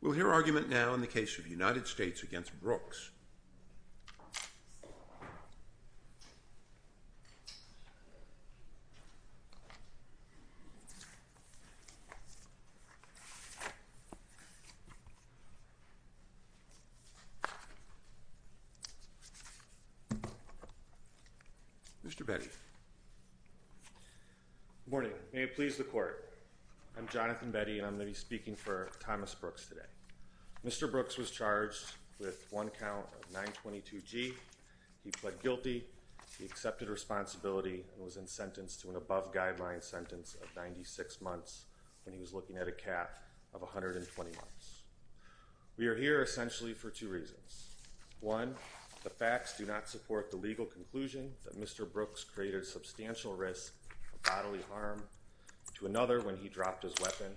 We will hear argument now in the case of the United States v. Brooks. Mr. Betty. Good morning. May it please the court. I'm Jonathan Betty, and I'm going to be speaking for Thomas Brooks today. Mr. Brooks was charged with one count of 922 G. He pled guilty. He accepted responsibility and was in sentence to an above guideline sentence of 96 months when he was looking at a cap of 120 months. We are here essentially for two reasons. One, the facts do not support the legal conclusion that Mr. Brooks created substantial risk of bodily harm to another when he dropped his weapon.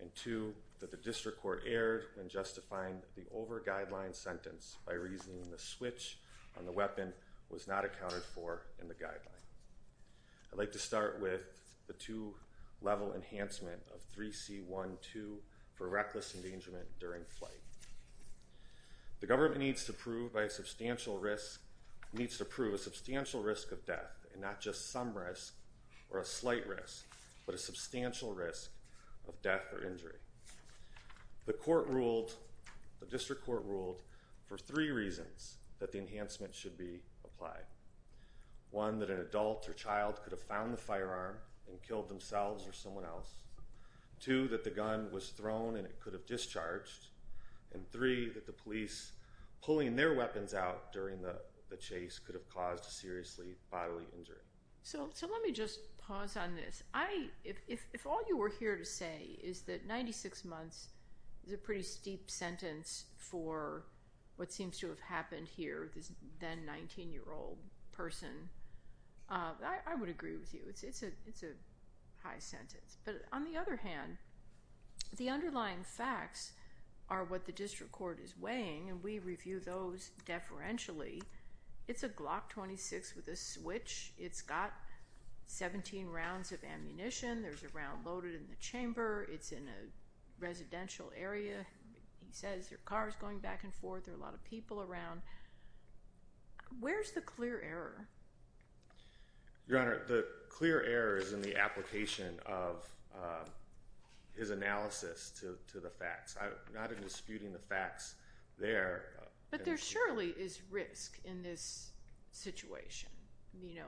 And two, that the district court erred in justifying the over guideline sentence by reasoning the switch on the weapon was not accounted for in the guideline. I'd like to start with the two-level enhancement of 3C.1.2 for reckless endangerment during flight. The government needs to prove a substantial risk of death, and not just some risk or a slight risk, but a substantial risk of death or injury. The district court ruled for three reasons that the enhancement should be applied. One, that an adult or child could have found the firearm and killed themselves or someone else. Two, that the gun was thrown and it could have discharged. And three, that the police pulling their weapons out during the chase could have caused a seriously bodily injury. So let me just pause on this. If all you were here to say is that 96 months is a pretty steep sentence for what seems to have happened here, this then 19-year-old person, I would agree with you. It's a high sentence. But on the other hand, the underlying facts are what the district court is weighing, and we review those deferentially. It's a Glock 26 with a switch. It's got 17 rounds of ammunition. There's a round loaded in the chamber. It's in a residential area. He says there are cars going back and forth. There are a lot of people around. Where's the clear error? Your Honor, the clear error is in the application of his analysis to the facts. I'm not disputing the facts there. But there surely is risk in this situation. You know,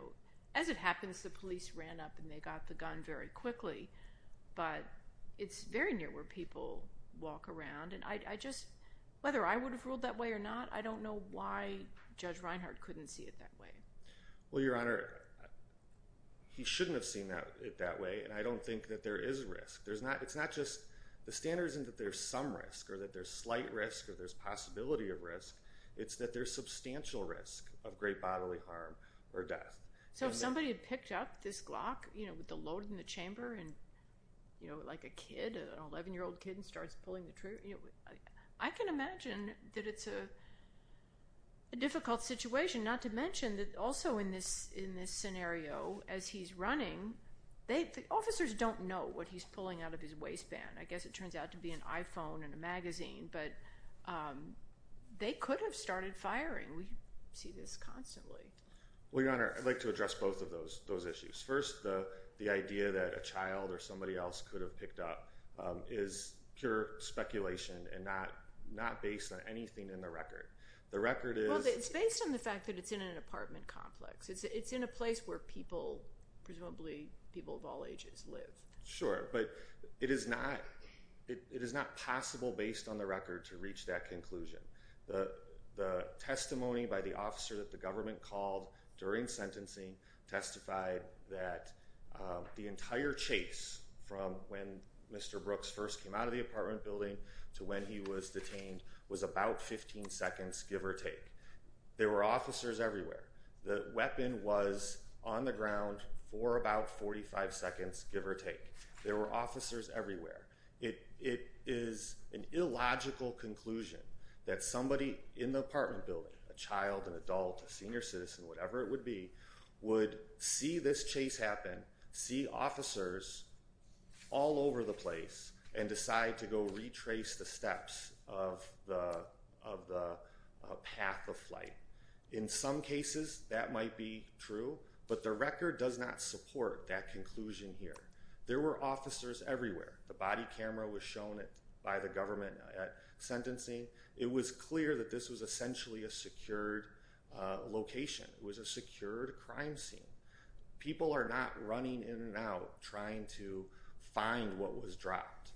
as it happens, the police ran up and they got the gun very quickly, but it's very near where people walk around. And I just, whether I would have ruled that way or not, I don't know why Judge Reinhart couldn't see it that way. Well, Your Honor, he shouldn't have seen it that way, and I don't think that there is risk. It's not just the standard isn't that there's some risk or that there's slight risk or there's possibility of risk. It's that there's substantial risk of great bodily harm or death. So if somebody had picked up this Glock, you know, with the load in the chamber and, you know, like a kid, an 11-year-old kid starts pulling the trigger, I can imagine that it's a difficult situation, not to mention that also in this scenario as he's running, the officers don't know what he's pulling out of his waistband. I guess it turns out to be an iPhone and a magazine, but they could have started firing. We see this constantly. Well, Your Honor, I'd like to address both of those issues. First, the idea that a child or somebody else could have picked up is pure speculation and not based on anything in the record. The record is— Well, it's based on the fact that it's in an apartment complex. It's in a place where people, presumably people of all ages, live. Sure, but it is not possible based on the record to reach that conclusion. The testimony by the officer that the government called during sentencing testified that the entire chase from when Mr. Brooks first came out of the apartment building to when he was detained was about 15 seconds, give or take. There were officers everywhere. The weapon was on the ground for about 45 seconds, give or take. There were officers everywhere. It is an illogical conclusion that somebody in the apartment building, a child, an adult, a senior citizen, whatever it would be, would see this chase happen, see officers all over the place, and decide to go retrace the steps of the path of flight. In some cases, that might be true, but the record does not support that conclusion here. There were officers everywhere. The body camera was shown by the government at sentencing. It was clear that this was essentially a secured location. It was a secured crime scene. People are not running in and out trying to find what was dropped.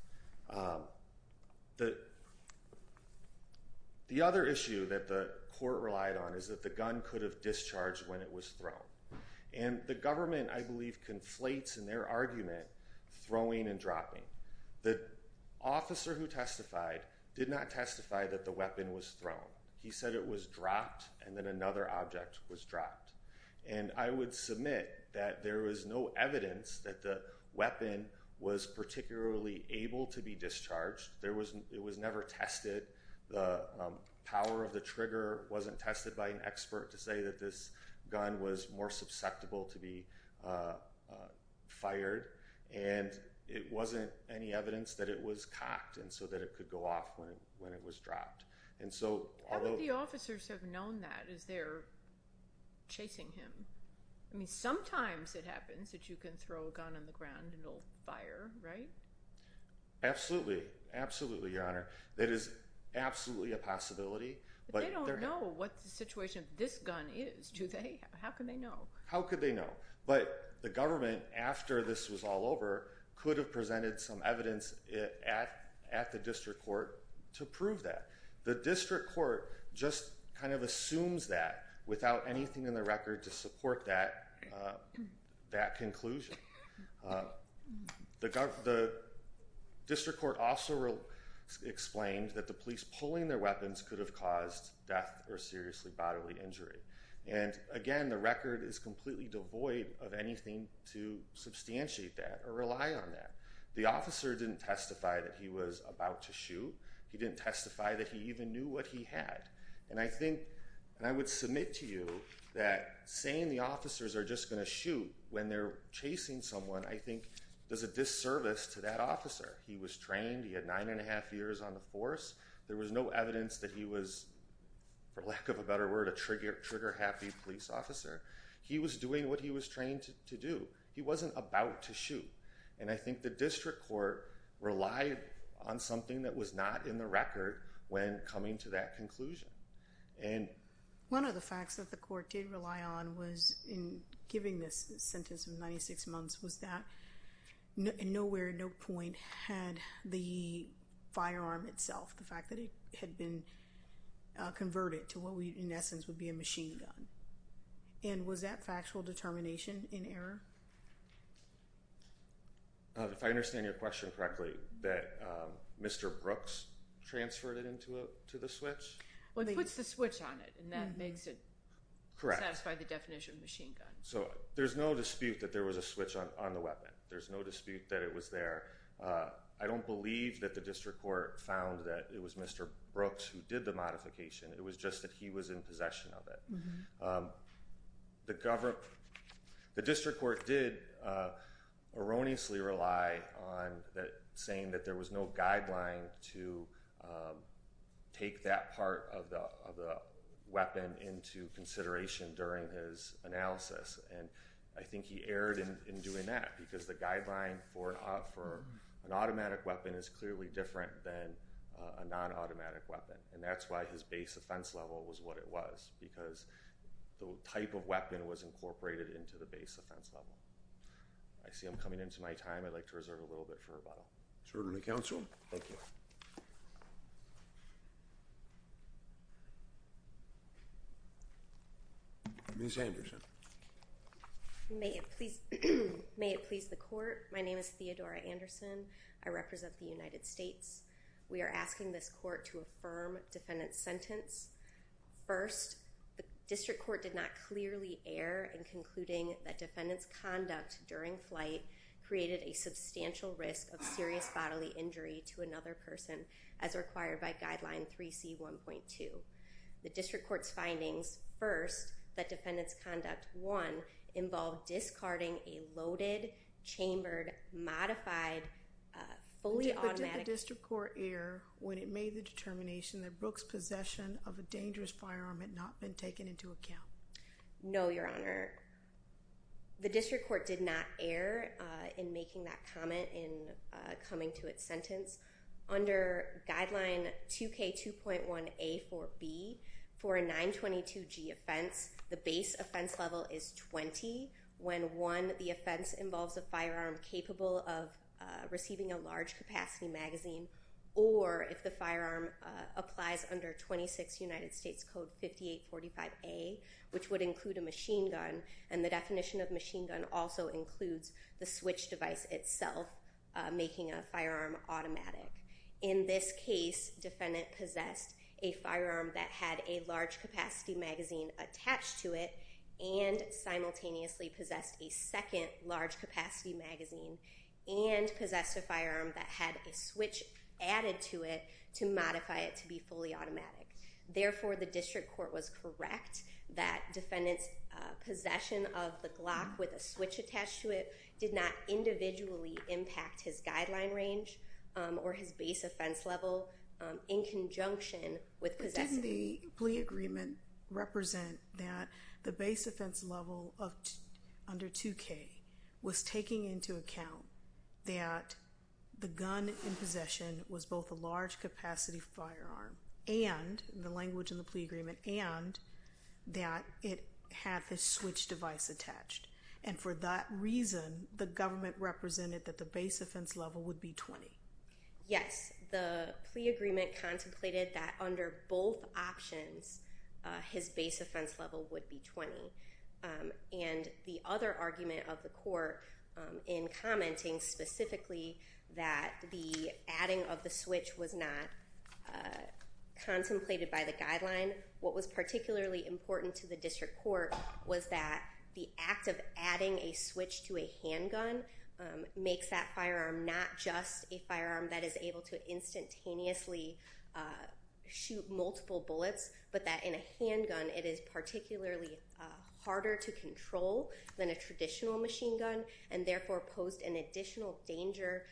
The other issue that the court relied on is that the gun could have discharged when it was thrown. And the government, I believe, conflates in their argument throwing and dropping. The officer who testified did not testify that the weapon was thrown. He said it was dropped and then another object was dropped. And I would submit that there was no evidence that the weapon was particularly able to be discharged. It was never tested. The power of the trigger wasn't tested by an expert to say that this gun was more susceptible to be fired. And it wasn't any evidence that it was cocked and so that it could go off when it was dropped. How would the officers have known that as they're chasing him? I mean, sometimes it happens that you can throw a gun on the ground and it'll fire, right? Absolutely. Absolutely, Your Honor. That is absolutely a possibility. But they don't know what the situation of this gun is, do they? How could they know? How could they know? But the government, after this was all over, could have presented some evidence at the district court to prove that. The district court just kind of assumes that without anything in the record to support that conclusion. The district court also explained that the police pulling their weapons could have caused death or seriously bodily injury. And again, the record is completely devoid of anything to substantiate that or rely on that. The officer didn't testify that he was about to shoot. He didn't testify that he even knew what he had. And I think, and I would submit to you that saying the officers are just going to shoot when they're chasing someone, I think, does a disservice to that officer. He was trained. He had nine and a half years on the force. There was no evidence that he was, for lack of a better word, a trigger-happy police officer. He was doing what he was trained to do. He wasn't about to shoot. And I think the district court relied on something that was not in the record when coming to that conclusion. And... One of the facts that the court did rely on was, in giving this sentence of 96 months, was that nowhere, at no point, had the firearm itself, the fact that it had been converted to what we, in essence, would be a machine gun. And was that factual determination in error? If I understand your question correctly, that Mr. Brooks transferred it into the switch? Well, he puts the switch on it, and that makes it satisfy the definition of machine gun. So there's no dispute that there was a switch on the weapon. There's no dispute that it was there. I don't believe that the district court found that it was Mr. Brooks who did the modification. It was just that he was in possession of it. The district court did erroneously rely on saying that there was no guideline to take that part of the weapon into consideration during his analysis. And I think he erred in doing that, because the guideline for an automatic weapon is clearly different than a non-automatic weapon. And that's why his base offense level was what it was, because the type of weapon was incorporated into the base offense level. I see I'm coming into my time. I'd like to reserve a little bit for rebuttal. It's an order to the counsel. Thank you. Ms. Anderson. May it please the court. My name is Theodora Anderson. I represent the United States. We are asking this court to affirm defendant's sentence. First, the district court did not clearly err in concluding that defendant's conduct during flight created a substantial risk of serious bodily injury to another person as required by guideline 3C1.2. The district court's findings, first, that defendant's conduct, one, involved discarding a loaded, chambered, modified, fully automatic— Did the district court err when it made the determination that Brooks' possession of a dangerous firearm had not been taken into account? No, Your Honor. The district court did not err in making that comment in coming to its sentence. Under guideline 2K2.1A4B for a 922G offense, the base offense level is 20 when, one, the offense involves a firearm capable of receiving a large-capacity magazine, or if the firearm applies under 26 United States Code 5845A, which would include a machine gun, and the definition of machine gun also includes the switch device itself making a firearm automatic. In this case, defendant possessed a firearm that had a large-capacity magazine attached to it and simultaneously possessed a second large-capacity magazine and possessed a firearm that had a switch added to it to modify it to be fully automatic. Therefore, the district court was correct that defendant's possession of the Glock with a switch attached to it did not individually impact his guideline range or his base offense level in conjunction with possessing— Didn't the plea agreement represent that the base offense level under 2K was taking into account that the gun in possession was both a large-capacity firearm and—the language in the plea agreement—and that it had the switch device attached. And for that reason, the government represented that the base offense level would be 20. Yes. The plea agreement contemplated that under both options, his base offense level would be 20. And the other argument of the court in commenting specifically that the adding of the switch was not contemplated by the guideline, what was particularly important to the district court was that the act of adding a switch to a handgun makes that firearm not just a firearm that is able to instantaneously shoot multiple bullets, but that in a handgun it is particularly harder to control than a traditional machine gun and therefore posed an additional danger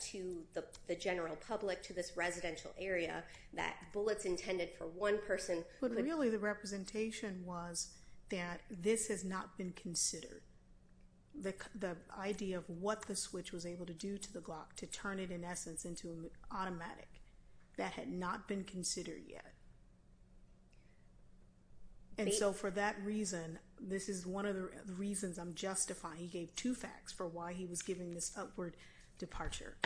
to the general public, to this residential area, that bullets intended for one person— But really the representation was that this has not been considered. The idea of what the switch was able to do to the Glock to turn it in essence into an automatic, that had not been considered yet. And so for that reason, this is one of the reasons I'm justifying. He gave two facts for why he was giving this upward departure.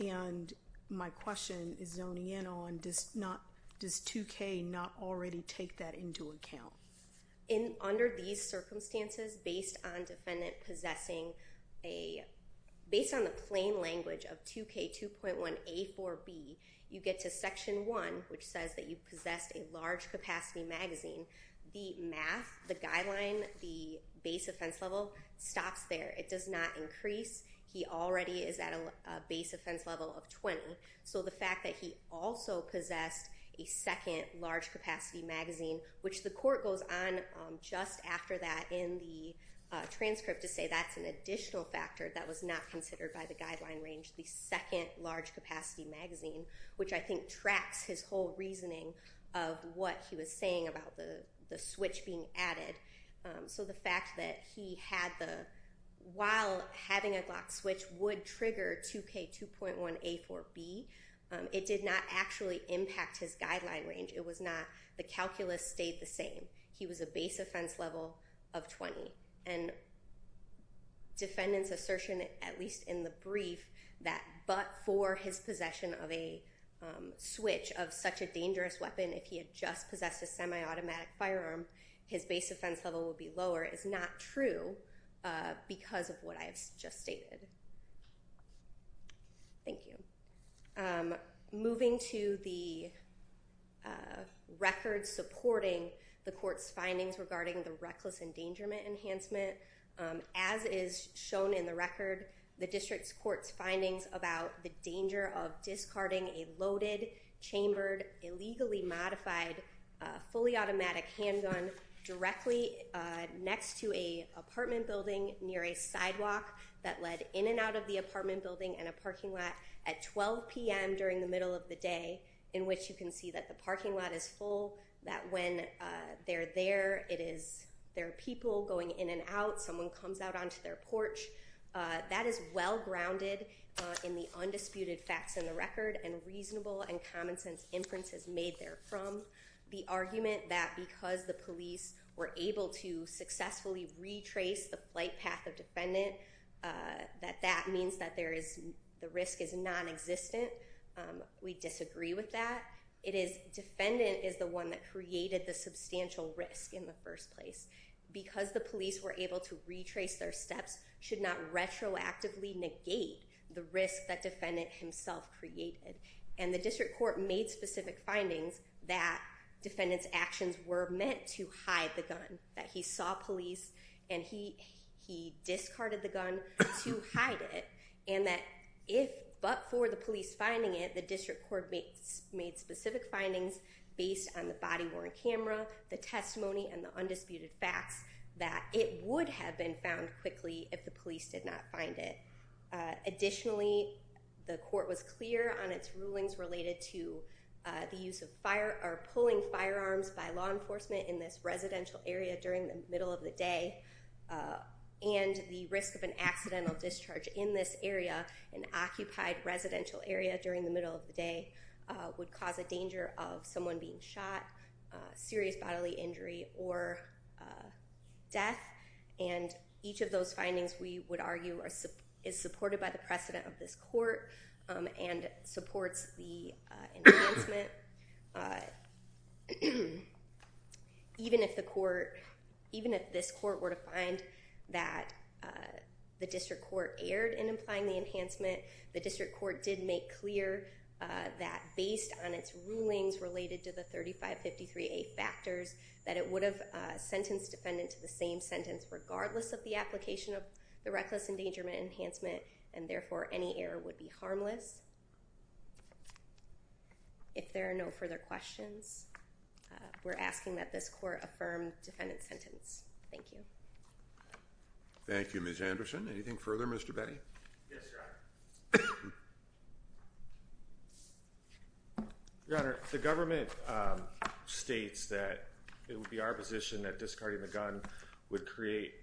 And my question is zoning in on, does 2K not already take that into account? Under these circumstances, based on defendant possessing a—based on the plain language of 2K 2.1 A4B, you get to Section 1, which says that you possessed a large capacity magazine. The math, the guideline, the base offense level stops there. It does not increase. He already is at a base offense level of 20. So the fact that he also possessed a second large capacity magazine, which the court goes on just after that in the transcript to say that's an additional factor that was not considered by the guideline range, the second large capacity magazine, which I think tracks his whole reasoning of what he was saying about the switch being added. So the fact that he had the—while having a Glock switch would trigger 2K 2.1 A4B, it did not actually impact his guideline range. It was not—the calculus stayed the same. He was a base offense level of 20. And defendant's assertion, at least in the brief, that but for his possession of a switch of such a dangerous weapon, if he had just possessed a semi-automatic firearm, his base offense level would be lower is not true because of what I have just stated. Thank you. Moving to the record supporting the court's findings regarding the reckless endangerment enhancement, as is shown in the record, the district's court's findings about the danger of discarding a loaded, chambered, illegally modified, fully automatic handgun directly next to an apartment building near a sidewalk that led in and out of the apartment building and a parking lot at 12 p.m. during the middle of the day, in which you can see that the parking lot is full, that when they're there, it is—there are people going in and out. Someone comes out onto their porch. That is well-grounded in the undisputed facts in the record and reasonable and common-sense inferences made therefrom. The argument that because the police were able to successfully retrace the flight path of defendant, that that means that there is—the risk is nonexistent, we disagree with that. It is defendant is the one that created the substantial risk in the first place. Because the police were able to retrace their steps should not retroactively negate the risk that defendant himself created. And the district court made specific findings that defendant's actions were meant to hide the gun, that he saw police and he discarded the gun to hide it, and that if—but for the police finding it, the district court made specific findings based on the body-worn camera, the testimony, and the undisputed facts, that it would have been found quickly if the police did not find it. Additionally, the court was clear on its rulings related to the use of fire—or pulling firearms by law enforcement in this residential area during the middle of the day, and the risk of an accidental discharge in this area, not an occupied residential area during the middle of the day, would cause a danger of someone being shot, serious bodily injury, or death. And each of those findings, we would argue, is supported by the precedent of this court and supports the enhancement. Even if the court—even if this court were to find that the district court erred in implying the enhancement, the district court did make clear that based on its rulings related to the 3553A factors, that it would have sentenced defendant to the same sentence regardless of the application of the reckless endangerment enhancement, If there are no further questions, we're asking that this court affirm defendant's sentence. Thank you. Thank you, Ms. Anderson. Anything further, Mr. Betty? Yes, Your Honor. Your Honor, the government states that it would be our position that discarding the gun would create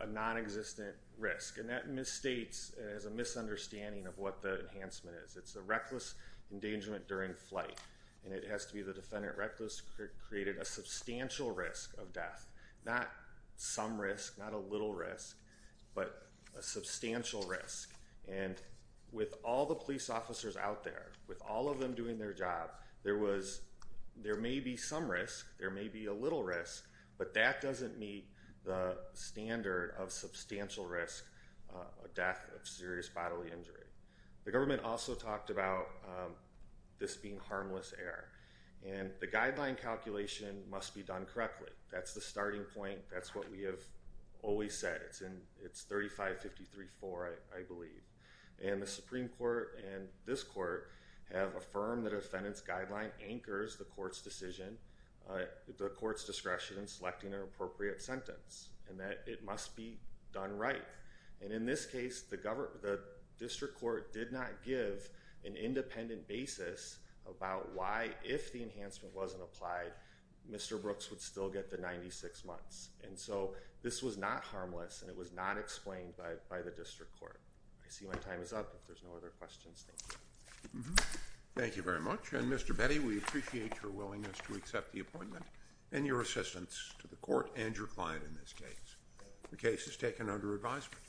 a non-existent risk, and that misstates as a misunderstanding of what the enhancement is. It's a reckless endangerment during flight, and it has to be the defendant reckless created a substantial risk of death. Not some risk, not a little risk, but a substantial risk. And with all the police officers out there, with all of them doing their job, there was—there may be some risk, there may be a little risk, but that doesn't meet the standard of substantial risk of death of serious bodily injury. The government also talked about this being harmless error, and the guideline calculation must be done correctly. That's the starting point. That's what we have always said. It's 3553-4, I believe. And the Supreme Court and this court have affirmed that a defendant's guideline anchors the court's decision, the court's discretion in selecting an appropriate sentence, and that it must be done right. And in this case, the district court did not give an independent basis about why, if the enhancement wasn't applied, Mr. Brooks would still get the 96 months. And so this was not harmless, and it was not explained by the district court. I see my time is up. If there's no other questions, thank you. Thank you very much. And, Mr. Betty, we appreciate your willingness to accept the appointment and your assistance to the court and your client in this case. The case is taken under advisement.